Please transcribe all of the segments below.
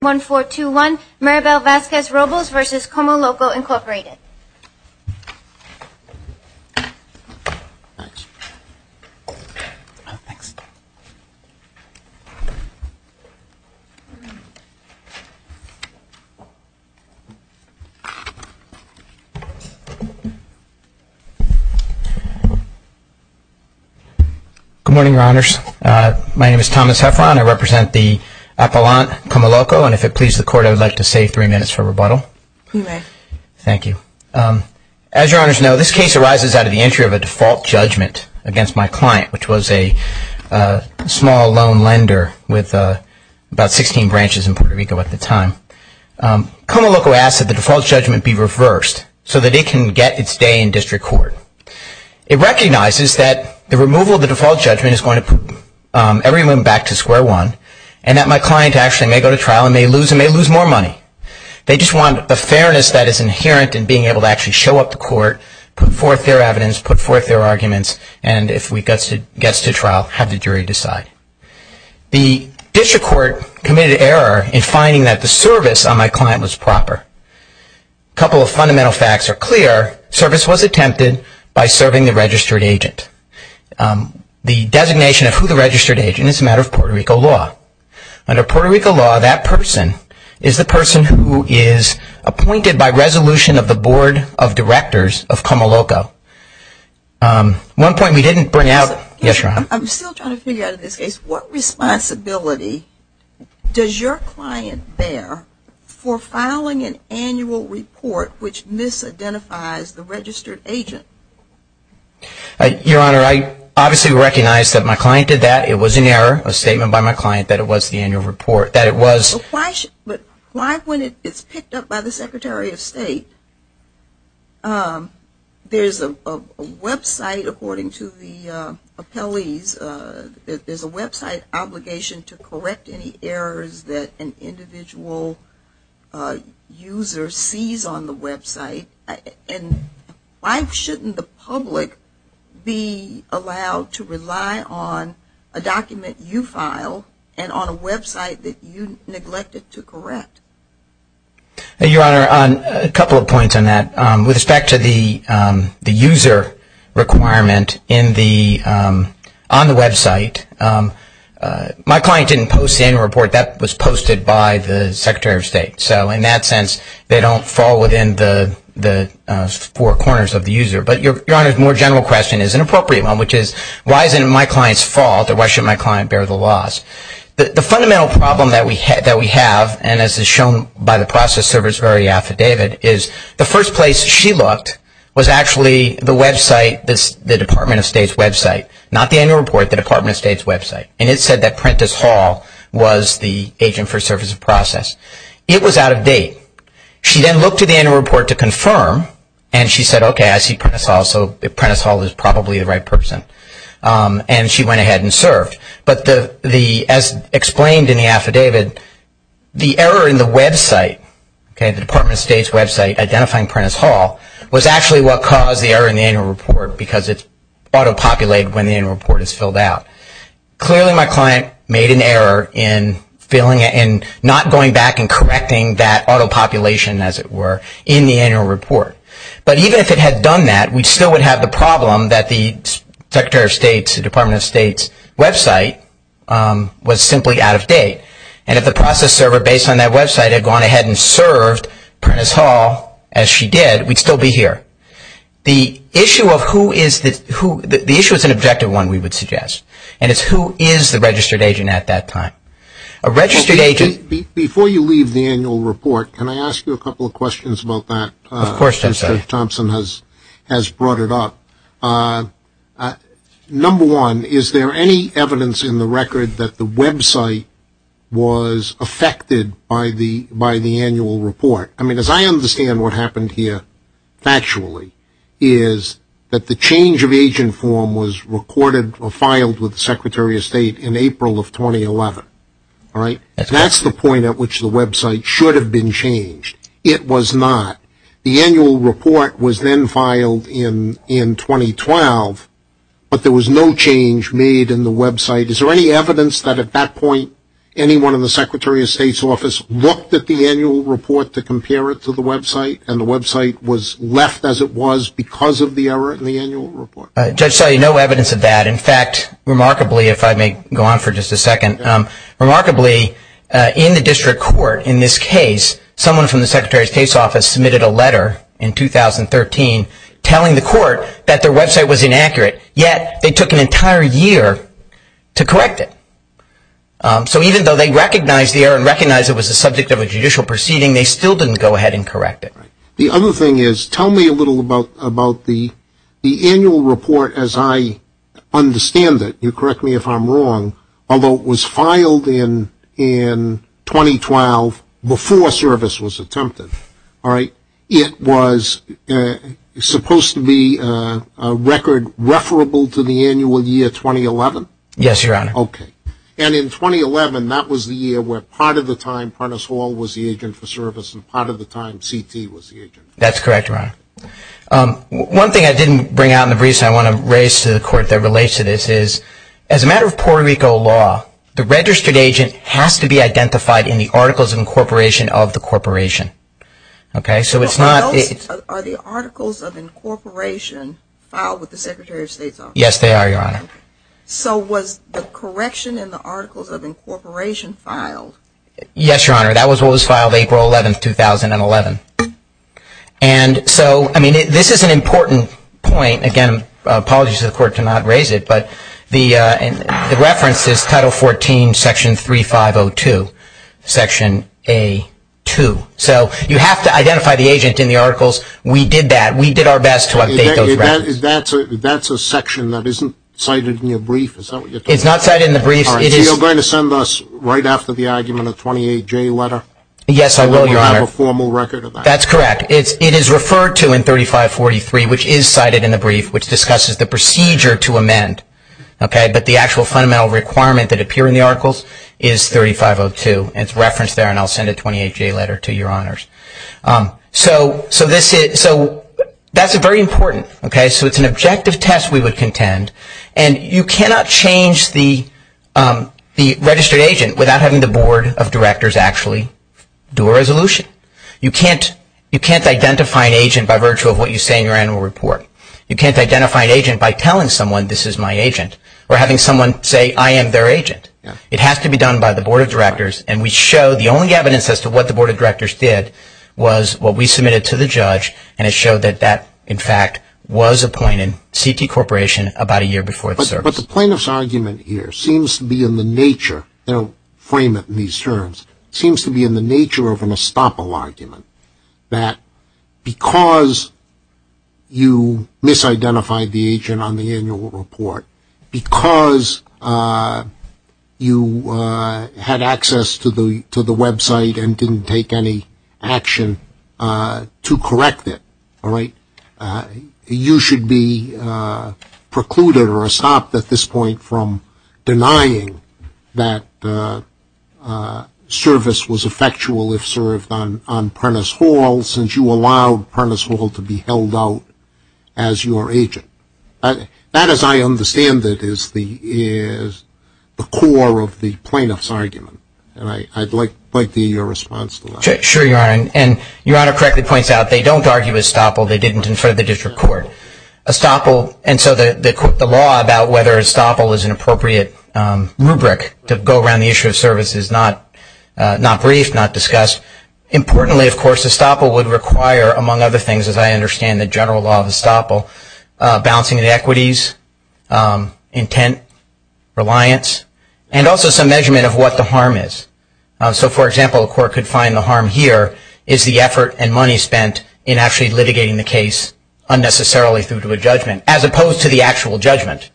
Good morning, Your Honors. My name is Thomas Heffron. I represent the Appellant, CommoLoCo, and if it pleases the Court, I would like to save three minutes for rebuttal. You may. Thank you. As Your Honors know, this case arises out of the entry of a default judgment against my client, which was a small loan lender with about 16 branches in Puerto Rico at the time. CommoLoCo asked that the default judgment be reversed so that it can get its day in district court. It recognizes that the removal of the default judgment is going to put everyone back to square one, and that my client actually may go to trial and may lose more money. They just want the fairness that is inherent in being able to actually show up to court, put forth their evidence, put forth their arguments, and if he gets to trial, have the jury decide. The district court committed error in finding that the service on my client was proper. Couple of fundamental facts are clear. Service was attempted by serving the registered agent. The designation of who the registered agent is a matter of Puerto Rico law. Under Puerto Rico law, that person is the person who is appointed by resolution of the Board of Directors of CommoLoCo. One point we didn't bring out. Yes, Your Honor. I'm still trying to figure out in this case, what responsibility does your client bear for filing an annual report which misidentifies the registered agent? Your Honor, I obviously recognize that my client did that. It was an error. A statement by my client that it was the annual report. That it was. But why when it's picked up by the Secretary of State, there's a website, according to the appellees, there's a website obligation to correct any errors that an individual user sees on the website. And why shouldn't the public be allowed to rely on a document you file and on a website that you neglected to correct? Your Honor, a couple of points on that. With respect to the user requirement on the website, my client didn't post the annual report. That was posted by the Secretary of State. So in that sense, they don't fall within the four corners of the user. But Your Honor's more general question is an appropriate one, which is, why is it my client's fault or why should my client bear the loss? The fundamental problem that we have, and as is shown by the process service very affidavit, is the first place she looked was actually the website, the Department of State's website. Not the annual report, the Department of State's website. And it said that Prentiss Hall was the agent for service of process. It was out of date. She then looked at the annual report to confirm, and she said, okay, I see Prentiss Hall, so Prentiss Hall is probably the right person. And she went ahead and served. But as explained in the affidavit, the error in the website, the Department of State's website identifying Prentiss Hall, was actually what caused the error in the annual report because it's auto-populated when the annual report is filled out. Clearly my client made an error in not going back and correcting that auto-population, as it were, in the annual report. But even if it had done that, we still would have the problem that the Secretary of State's, the Department of State's website was simply out of date. And if the process server based on that website had gone ahead and served Prentiss Hall as she did, we'd still be here. The issue of who is the, the issue is an objective one, we would suggest, and it's who is the registered agent at that time. A registered agent... Well, before you leave the annual report, can I ask you a couple of questions about that? Of course, Judge Thompson has brought it up. Number one, is there any evidence in the record that the website was affected by the annual report? I mean, as I understand what happened here, factually, is that the change of agent form was recorded or filed with the Secretary of State in April of 2011, all right? That's the point at which the website should have been changed. It was not. The annual report was then filed in 2012, but there was no change made in the website. Is there any evidence that at that point, anyone in the Secretary of State's office looked at the annual report to compare it to the website, and the website was left as it was because of the error in the annual report? Judge Selley, no evidence of that. In fact, remarkably, if I may go on for just a second, remarkably, in the district court in this case, someone from the Secretary's case office submitted a letter in 2013 telling the court that their website was inaccurate, yet they took an entire year to correct it. So even though they recognized the error and recognized it was the subject of a judicial proceeding, they still didn't go ahead and correct it. The other thing is, tell me a little about the annual report as I understand it. You correct me if I'm wrong, although it was filed in 2012 before service was attempted, all right? It was supposed to be a record referable to the annual year 2011? Yes, Your Honor. Okay. And in 2011, that was the year where part of the time Prentice Hall was the agent for service and part of the time CT was the agent for service? That's correct, Your Honor. One thing I didn't bring out in the briefs that I want to raise to the court that relates to this is, as a matter of Puerto Rico law, the registered agent has to be identified in the Articles of Incorporation of the corporation, okay? So it's not... Are the Articles of Incorporation filed with the Secretary of State's office? Yes, they are, Your Honor. Okay. So was the correction in the Articles of Incorporation filed? Yes, Your Honor. That was what was filed April 11, 2011. And so, I mean, this is an important point, again, apologies to the court to not raise it, but the reference is Title 14, Section 3502, Section A2. So you have to identify the agent in the Articles. We did that. We did our best to update those references. That's a section that isn't cited in your brief, is that what you're talking about? It's not cited in the briefs. So you're going to send us, right after the argument, a 28-J letter? Yes, I will, Your Honor. So we'll have a formal record of that? That's correct. It is referred to in 3543, which is cited in the brief, which discusses the procedure to amend, okay? But the actual fundamental requirement that appear in the Articles is 3502. It's referenced there, and I'll send a 28-J letter to Your Honors. So that's very important, okay? So it's an objective test, we would contend, and you cannot change the registered agent without having the Board of Directors actually do a resolution. You can't identify an agent by virtue of what you say in your annual report. You can't identify an agent by telling someone, this is my agent, or having someone say, I am their agent. It has to be done by the Board of Directors, and we show the only evidence as to what the we submitted to the judge, and it showed that that, in fact, was a point in CT Corporation about a year before the service. But the plaintiff's argument here seems to be in the nature, I don't frame it in these terms, seems to be in the nature of an estoppel argument, that because you misidentified the agent on the annual report, because you had access to the website and didn't take any action to correct it, all right, you should be precluded or stopped at this point from denying that service was effectual if served on Prentice Hall, since you allowed Prentice Hall to be held out as your agent. That as I understand it is the core of the plaintiff's argument, and I'd like to hear your response to that. Sure, Your Honor, and Your Honor correctly points out they don't argue estoppel, they didn't in front of the district court. Estoppel, and so the law about whether estoppel is an appropriate rubric to go around the issue of service is not briefed, not discussed. Importantly, of course, estoppel would require, among other things, as I understand the general law of estoppel, balancing of the equities, intent, reliance, and also some measurement of what the harm is. So for example, a court could find the harm here is the effort and money spent in actually litigating the case unnecessarily through to a judgment, as opposed to the actual judgment.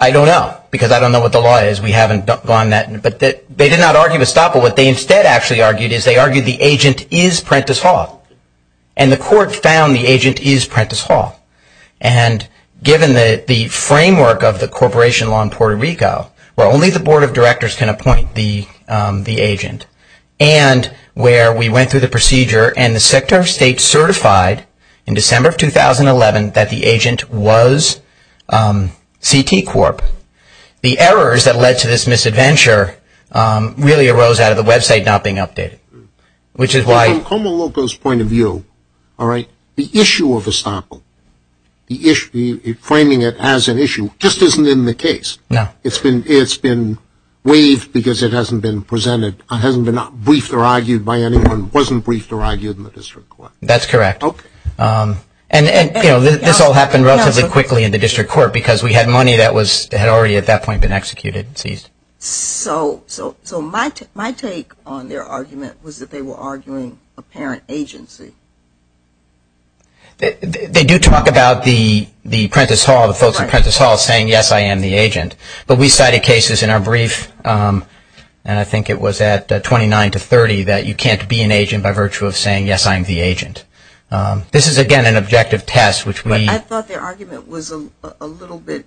I don't know, because I don't know what the law is, we haven't gone that, but they did not argue estoppel, what they instead actually argued is they argued the agent is Prentice Hall, and the court found the agent is Prentice Hall, and given the framework of the corporation law in Puerto Rico, where only the board of directors can appoint the agent, and where we went through the procedure, and the sector of state certified in December of 2011 that the agent was CT Corp., the errors that led to this misadventure really arose out of the website not being updated, which is why... From Como Loco's point of view, all right, the issue of estoppel, the issue, framing it as an issue, just isn't in the case, it's been waived because it hasn't been presented, it hasn't been briefed or argued by anyone, wasn't briefed or argued in the district court. That's correct, and you know, this all happened relatively quickly in the district court because we had money that was, had already at that point been executed and seized. So my take on their argument was that they were arguing a parent agency. They do talk about the Prentice Hall, the folks at Prentice Hall saying, yes, I am the agent, but we cited cases in our brief, and I think it was at 29 to 30, that you can't be an agent by virtue of saying, yes, I am the agent. This is again an objective test, which we... I thought their argument was a little bit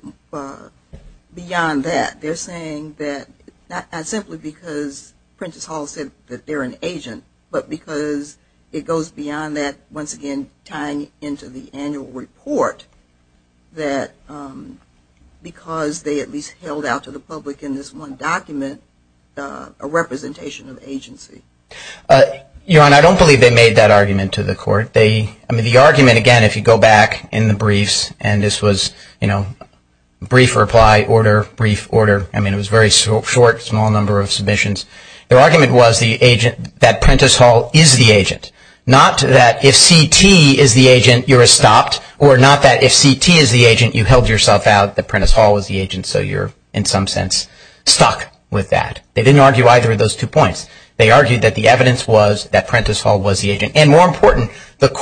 beyond that. They're saying that, not simply because Prentice Hall said that they're an agent, but because it goes beyond that, once again, tying into the annual report, that because they at least held out to the public in this one document a representation of agency. Your Honor, I don't believe they made that argument to the court. They, I mean, the argument, again, if you go back in the briefs, and this was, you know, brief reply, order, brief order, I mean, it was a very short, small number of submissions. Their argument was the agent, that Prentice Hall is the agent. Not that if CT is the agent, you're stopped, or not that if CT is the agent, you held yourself out, that Prentice Hall was the agent, so you're, in some sense, stuck with that. They didn't argue either of those two points. They argued that the evidence was that Prentice Hall was the agent, and more important, the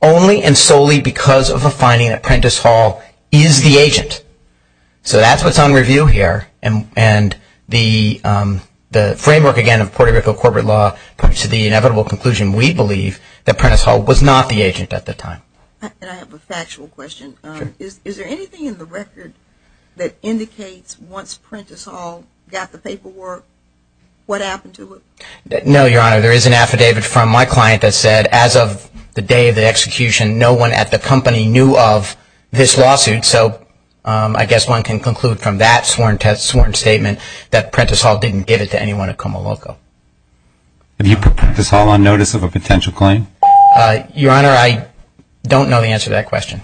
only and solely because of a finding that Prentice Hall is the agent. So that's what's on review here, and the framework, again, of Puerto Rico corporate law, to the inevitable conclusion, we believe, that Prentice Hall was not the agent at the time. And I have a factual question. Is there anything in the record that indicates once Prentice Hall got the paperwork, what happened to it? No, Your Honor. There is an affidavit from my client that said, as of the day of the execution, no one at the company knew of this lawsuit, so I guess one can conclude from that sworn statement that Prentice Hall didn't give it to anyone at Comoloco. Have you put Prentice Hall on notice of a potential claim? Your Honor, I don't know the answer to that question.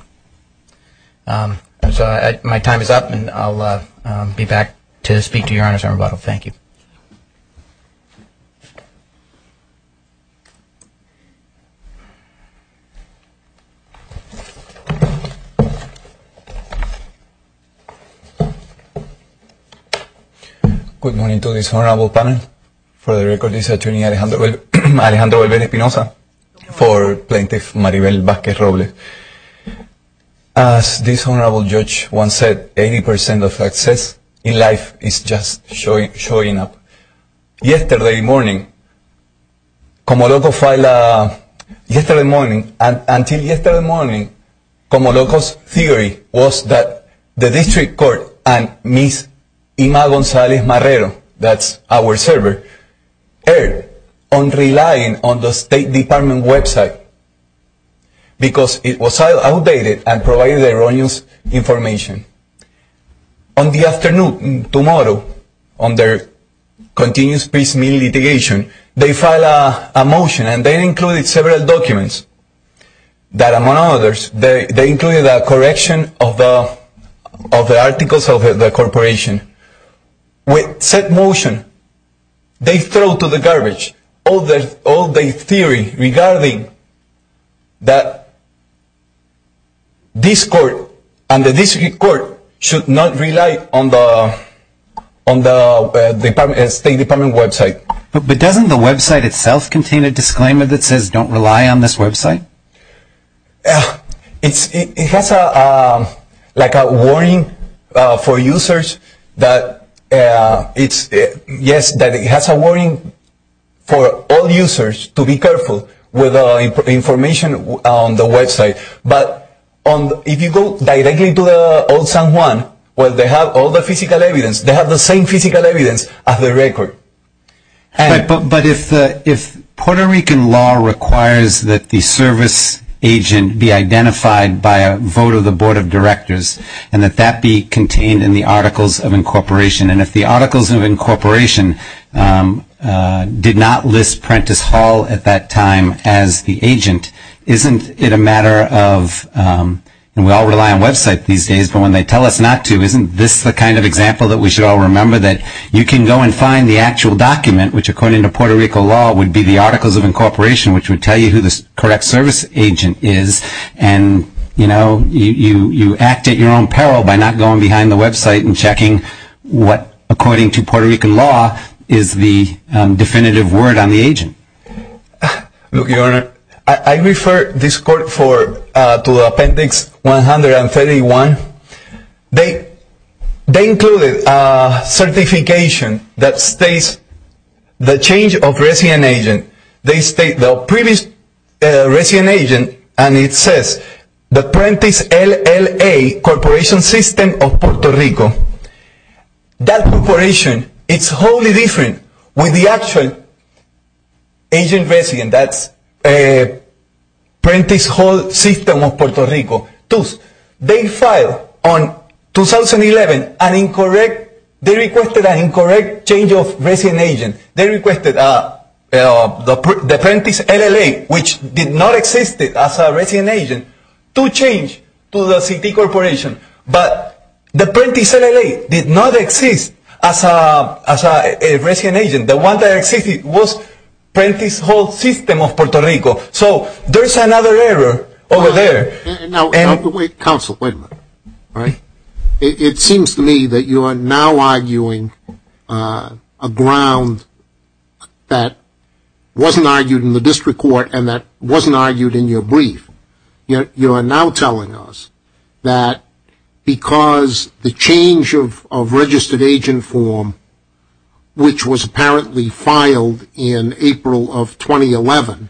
My time is up, and I'll be back to speak to Your Honor's rebuttal. Thank you. Good morning to this honorable panel. For the record, this is Attorney Alejandro Belver-Espinosa for Plaintiff Maribel Vázquez-Robles. As this honorable judge once said, 80% of success in life is just showing up. Yesterday morning, Comoloco filed a, yesterday morning, until yesterday morning, Comoloco's theory was that the district court and Ms. Ima González-Marrero, that's our server, erred on relying on the State Department website because it was outdated and provided erroneous information. On the afternoon, tomorrow, on their continuous peace meeting litigation, they filed a motion and they included several documents that, among others, they included a correction of the articles of the corporation. With said motion, they throw to the garbage all their theory regarding that this court and the district court should not rely on the State Department website. But doesn't the website itself contain a disclaimer that says don't rely on this website? It has a, like a warning for users that it's, yes, that it has a warning for all users to be careful with the information on the website. But if you go directly to the old San Juan, where they have all the physical evidence, they have the same physical evidence as the record. But if Puerto Rican law requires that the service agent be identified by a vote of the board of directors and that that be contained in the articles of incorporation, and if the articles of incorporation did not list Prentiss Hall at that time as the agent, isn't it a matter of, and we all rely on websites these days, but when they tell us not to, isn't this the kind of example that we should all remember that you can go and find the actual document, which according to Puerto Rican law would be the articles of incorporation, which would tell you who the correct service agent is, and you know, you act at your own peril by not going behind the website and checking what, according to Puerto Rican law, is the definitive word on the agent. Look, Your Honor, I refer this court to Appendix 131. They included a certification that states the change of resident agent. They state the previous resident agent, and it says the Prentiss LLA Corporation System of Puerto Rico. That corporation, it's wholly different with the actual agent resident, that's Prentiss Hall System of Puerto Rico. Thus, they filed on 2011 an incorrect, they requested an incorrect change of resident agent. They requested the Prentiss LLA, which did not exist as a resident agent, to change to the CT Corporation, but the Prentiss LLA did not exist as a resident agent. The one that existed was Prentiss Hall System of Puerto Rico. So there's another error over there. Now wait, counsel, wait a minute. It seems to me that you are now arguing a ground that wasn't argued in the district court and that wasn't argued in your brief. You are now telling us that because the change of registered agent form, which was apparently filed in April of 2011,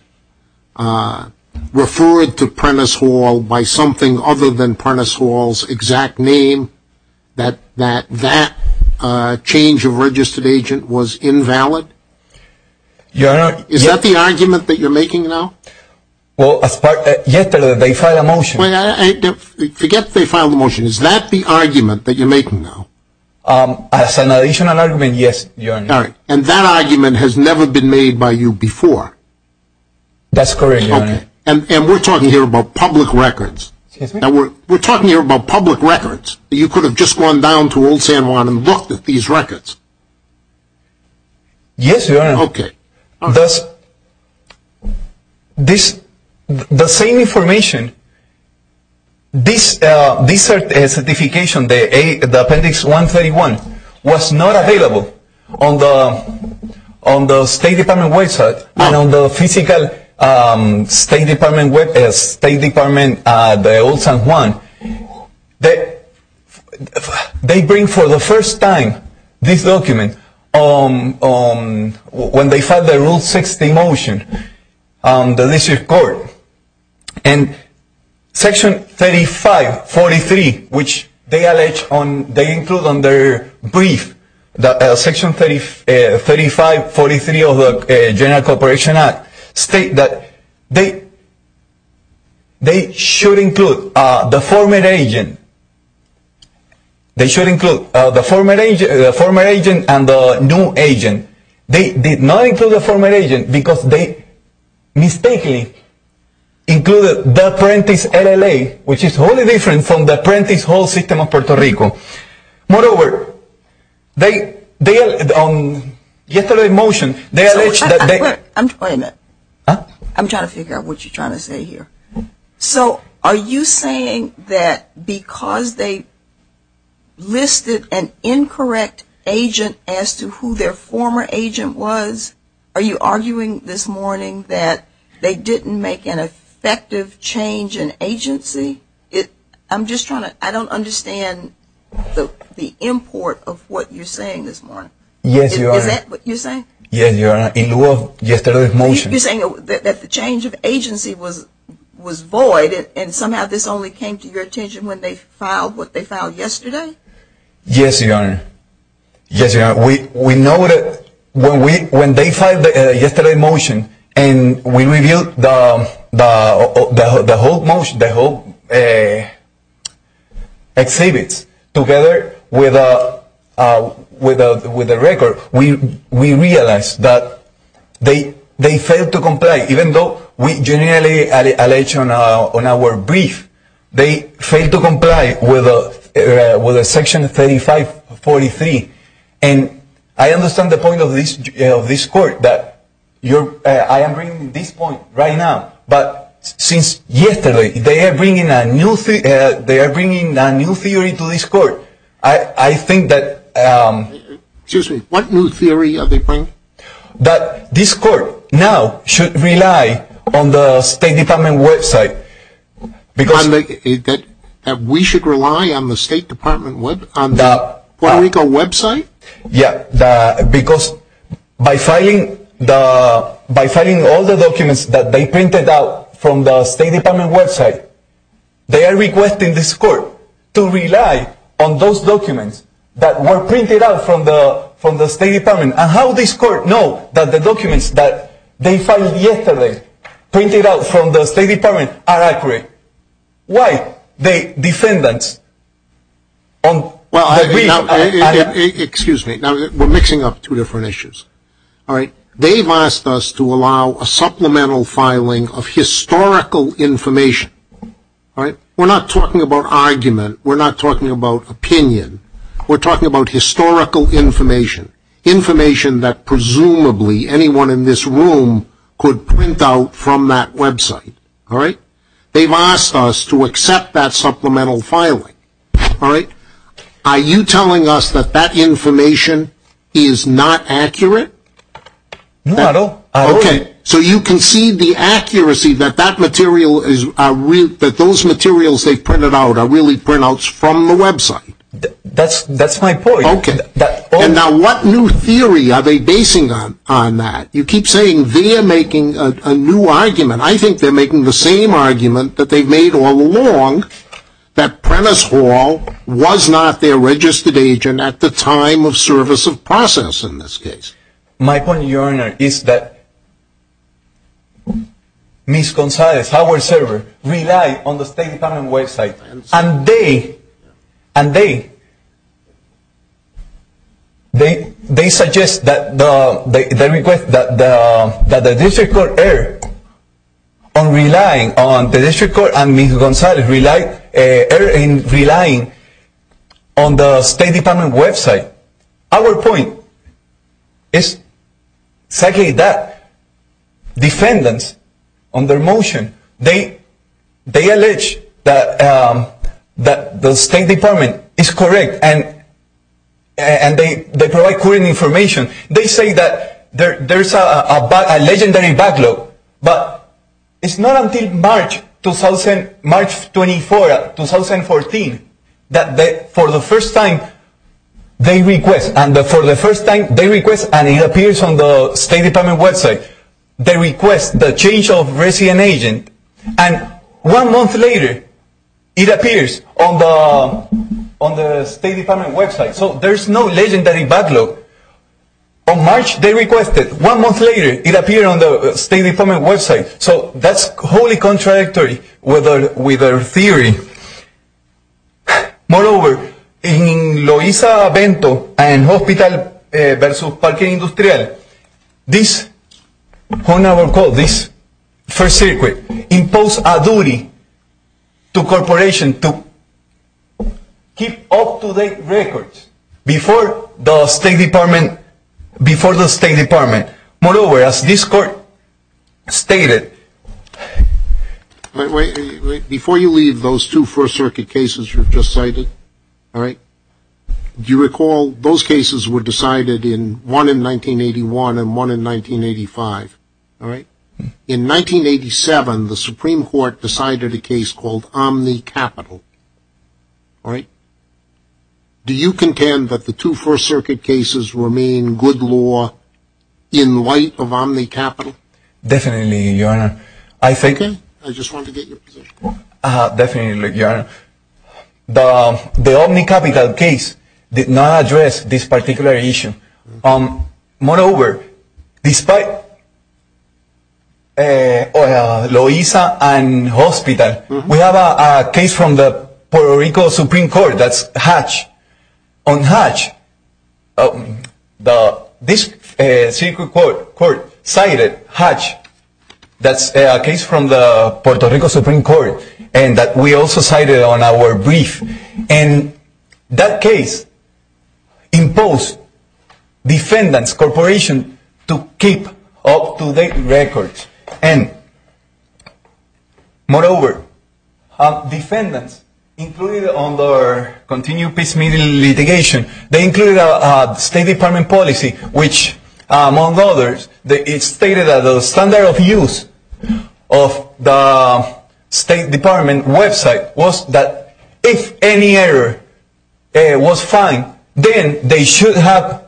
referred to Prentiss Hall by something other than Prentiss Hall's exact name, that that change of registered agent was invalid? Is that the argument that you're making now? Well, as part of, yes, they filed a motion. Wait, forget they filed a motion. Is that the argument that you're making now? As an additional argument, yes, Your Honor. All right. And that argument has never been made by you before? That's correct, Your Honor. Okay. And we're talking here about public records. Excuse me? We're talking here about public records. You could have just gone down to Old San Juan and looked at these records. Yes, Your Honor. Okay. The same information, this certification, the Appendix 131, was not available on the State Department website and on the physical State Department, the Old San Juan. They bring, for the first time, this document when they filed the Rule 60 motion, the District Court. And Section 3543, which they allege on, they include on their brief, Section 3543 of the General Corporation Act, state that they should include the former agent. They should include the former agent and the new agent. They did not include the former agent because they mistakenly included the Apprentice LLA, which is wholly different from the Apprentice Whole System of Puerto Rico. Moreover, they, on yesterday's motion, they allege that they Wait a minute. I'm trying to figure out what you're trying to say here. So are you saying that because they listed an incorrect agent as to who their former agent was, are you arguing this morning that they didn't make an effective change in agency? I'm just trying to, I don't understand the import of what you're saying this morning. Yes, Your Honor. Is that what you're saying? Yes, Your Honor, in lieu of yesterday's motion. You're saying that the change of agency was void and somehow this only came to your attention when they filed what they filed yesterday? Yes, Your Honor. Yes, Your Honor. We know that when they filed yesterday's motion and we reviewed the whole motion, the whole exhibits together with the record, we realized that they failed to comply. Even though we generally allege on our brief, they failed to comply with Section 3543. And I understand the point of this court that I am bringing this point right now. But since yesterday, they are bringing a new theory to this court. I think that Excuse me. What new theory are they bringing? That this court now should rely on the State Department website. That we should rely on the State Department, on the Puerto Rico website? Yes, because by filing all the documents that they printed out from the State Department website, they are requesting this court to rely on those documents that were printed out from the State Department. And how does this court know that the documents that they filed yesterday, printed out from the State Department, are accurate? Why the defendants on the brief Excuse me. We are mixing up two different issues. They have asked us to allow a supplemental filing of historical information. We are not talking about argument. We are not talking about opinion. We are talking about historical information. Information that presumably anyone in this room could print out from that website. All right? They have asked us to accept that supplemental filing. All right? Are you telling us that that information is not accurate? No. Okay. So you can see the accuracy that those materials they printed out are really printouts from the website. That is my point. Okay. And now what new theory are they basing on that? You keep saying they are making a new argument. I think they are making the same argument that they have made all along, that Prentice Hall was not their registered agent at the time of service of process in this case. My point, Your Honor, is that Ms. Gonzalez, our server, relied on the State Department website. And they suggest that the request that the district court err on relying on the district court and Ms. Gonzalez relying on the State Department website. Our point is exactly that. Defendants on their motion, they allege that the State Department is correct and they provide current information. They say that there is a legendary backlog, but it is not until March 2014 that for the first time they request, and for the first time they request and it appears on the State Department website, they request the change of resident agent, and one month later it appears on the State Department website. So there is no legendary backlog. On March they requested, one month later it appeared on the State Department website. So that is wholly contradictory with our theory. Moreover, in Loiza Avento and Hospital versus Parque Industrial, this first circuit imposed a duty to corporations to keep up-to-date records before the State Department. Moreover, as this court stated... Before you leave, those two first circuit cases you just cited, do you recall those cases were decided, one in 1981 and one in 1985. In 1987, the Supreme Court decided a case called Omni-Capital. Do you contend that the two first circuit cases remain good law in light of Omni-Capital? Definitely, Your Honor. I just want to get your position. Definitely, Your Honor. The Omni-Capital case did not address this particular issue. Moreover, despite Loiza and Hospital, we have a case from the Puerto Rico Supreme Court that's Hatch. On Hatch, this circuit court cited Hatch, that's a case from the Puerto Rico Supreme Court, and that we also cited on our brief. And that case imposed defendants, corporations, to keep up-to-date records. And moreover, defendants included on their continued peace meeting litigation, they included a State Department policy which, among others, it stated that the standard of use of the State Department website was that if any error was found, then they should have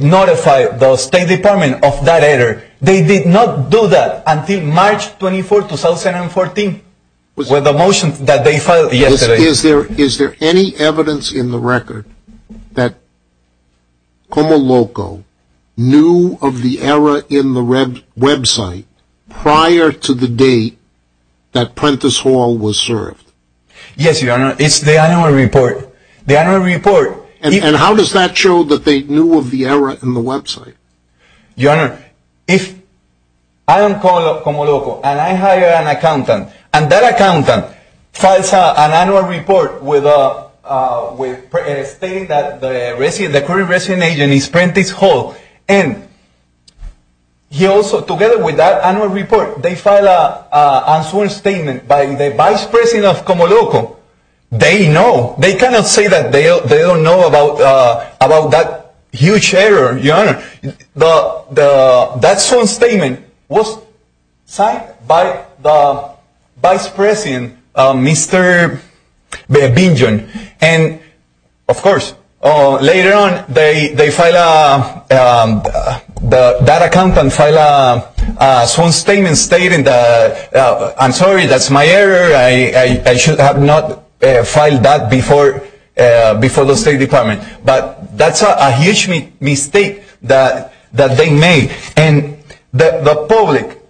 notified the State Department of that error. They did not do that until March 24, 2014 with the motion that they filed yesterday. Is there any evidence in the record that Comoloco knew of the error in the website prior to the date that Prentice Hall was served? Yes, Your Honor. It's the annual report. And how does that show that they knew of the error in the website? Your Honor, if I am Comoloco, and I hire an accountant, and that accountant files an annual report stating that the current resident agent is Prentice Hall, and he also, together with that annual report, they file a statement by the vice president of Comoloco, they know, they cannot say that they don't know about that huge error, Your Honor. That sworn statement was signed by the vice president, Mr. Bingen. And, of course, later on, that accountant filed a sworn statement stating that, I'm sorry, that's my error, I should have not filed that before the State Department. But that's a huge mistake that they made. And the public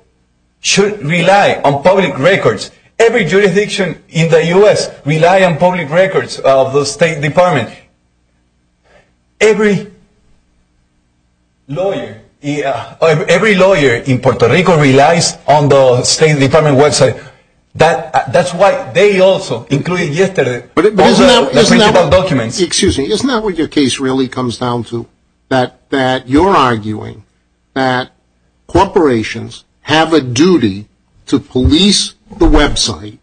should rely on public records. Every jurisdiction in the U.S. relies on public records of the State Department. Every lawyer in Puerto Rico relies on the State Department website. That's why they also, including yesterday, filed their original documents. Excuse me, isn't that what your case really comes down to? That you're arguing that corporations have a duty to police the website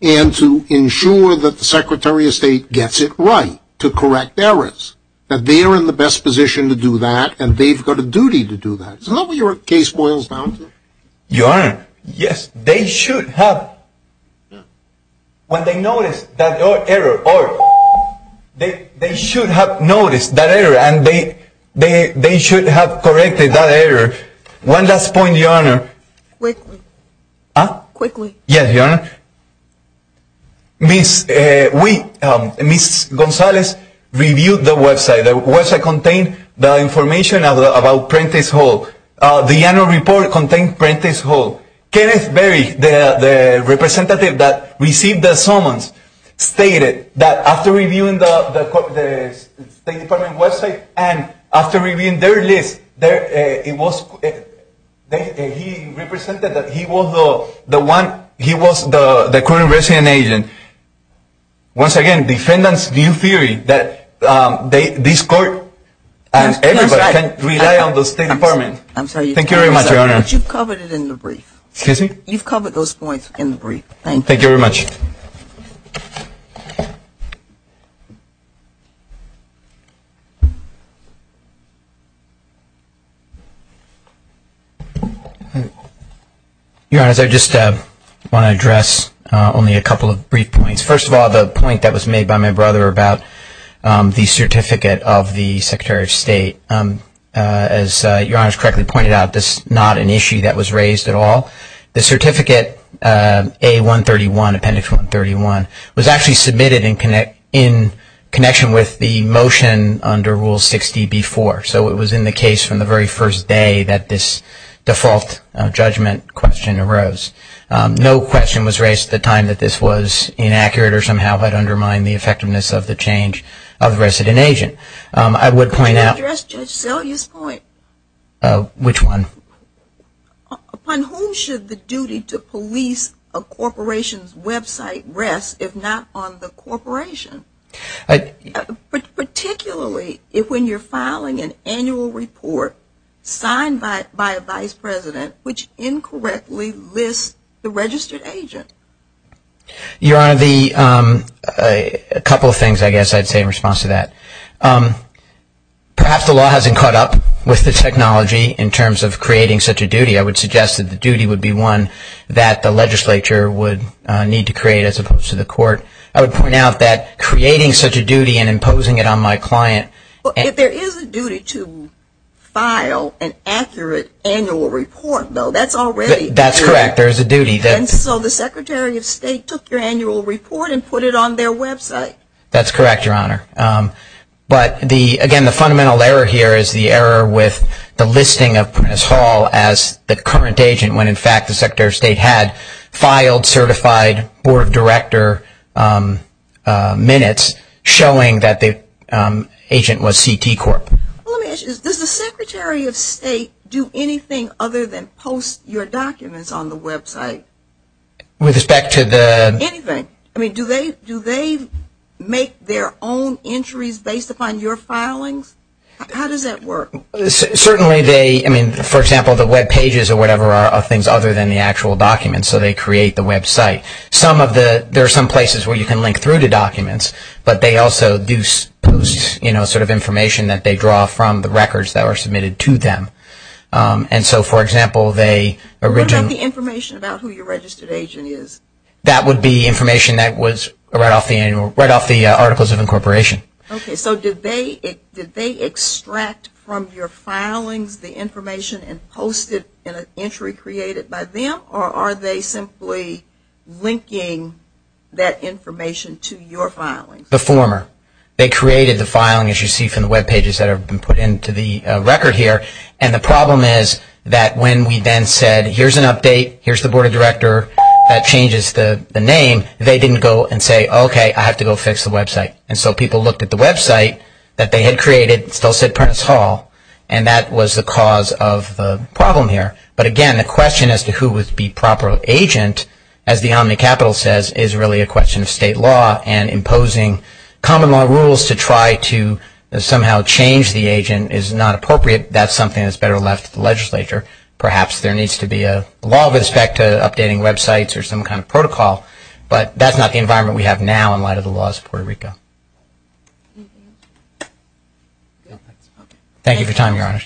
and to ensure that the Secretary of State gets it right, to correct errors. That they are in the best position to do that, and they've got a duty to do that. Isn't that what your case boils down to? Your Honor, yes, they should have. When they notice that error, they should have noticed that error, and they should have corrected that error. One last point, Your Honor. Quickly. Huh? Quickly. Yes, Your Honor. Ms. Gonzalez reviewed the website. The website contained the information about Prentice Hall. The annual report contained Prentice Hall. Kenneth Berry, the representative that received the summons, stated that after reviewing the State Department website and after reviewing their list, he represented that he was the current resident agent. Once again, defendants view theory that this court and everybody can rely on the State Department. I'm sorry. Thank you very much, Your Honor. But you've covered it in the brief. Excuse me? You've covered those points in the brief. Thank you. Thank you very much. Your Honor, I just want to address only a couple of brief points. First of all, the point that was made by my brother about the certificate of the Secretary of State. As Your Honor has correctly pointed out, this is not an issue that was raised at all. The certificate, A131, Appendix 131, was actually submitted in connection with the motion under Rule 60B-4. So it was in the case from the very first day that this default judgment question arose. No question was raised at the time that this was inaccurate or somehow had undermined the effectiveness of the change of resident agent. I would point out- Can I address Judge Selye's point? Which one? Upon whom should the duty to police a corporation's website rest if not on the corporation? Particularly if when you're filing an annual report signed by a vice president which incorrectly lists the registered agent. Your Honor, a couple of things I guess I'd say in response to that. Perhaps the law hasn't caught up with the technology in terms of creating such a duty. I would suggest that the duty would be one that the legislature would need to create as opposed to the court. I would point out that creating such a duty and imposing it on my client- But if there is a duty to file an accurate annual report, though, that's already- That's correct. There is a duty that- And so the Secretary of State took your annual report and put it on their website. That's correct, Your Honor. But again, the fundamental error here is the error with the listing of Prentiss Hall as the current agent when in fact the Secretary of State had filed certified board of director minutes showing that the agent was CT Corp. Does the Secretary of State do anything other than post your documents on the website? With respect to the- Anything. I mean, do they make their own entries based upon your filings? How does that work? Certainly they- I mean, for example, the webpages or whatever are things other than the actual documents, so they create the website. There are some places where you can link through to documents, but they also do post sort of information that they draw from the records that were submitted to them. And so, for example, they- What about the information about who your registered agent is? That would be information that was right off the articles of incorporation. Okay, so did they extract from your filings the information and post it in an entry created by them, or are they simply linking that information to your filings? The former. They created the filing, as you see from the webpages that have been put into the record here. And the problem is that when we then said, here's an update, here's the board of director, that changes the name, they didn't go and say, okay, I have to go fix the website. And so people looked at the website that they had created and still said Prentice Hall, and that was the cause of the problem here. But again, the question as to who would be proper agent, as the Omni Capitol says, is really a question of state law and imposing common law rules to try to somehow change the agent is not appropriate. That's something that's better left to the legislature. Perhaps there needs to be a law with respect to updating websites or some kind of protocol, but that's not the environment we have now in light of the laws of Puerto Rico. Thank you for your time, Your Honor.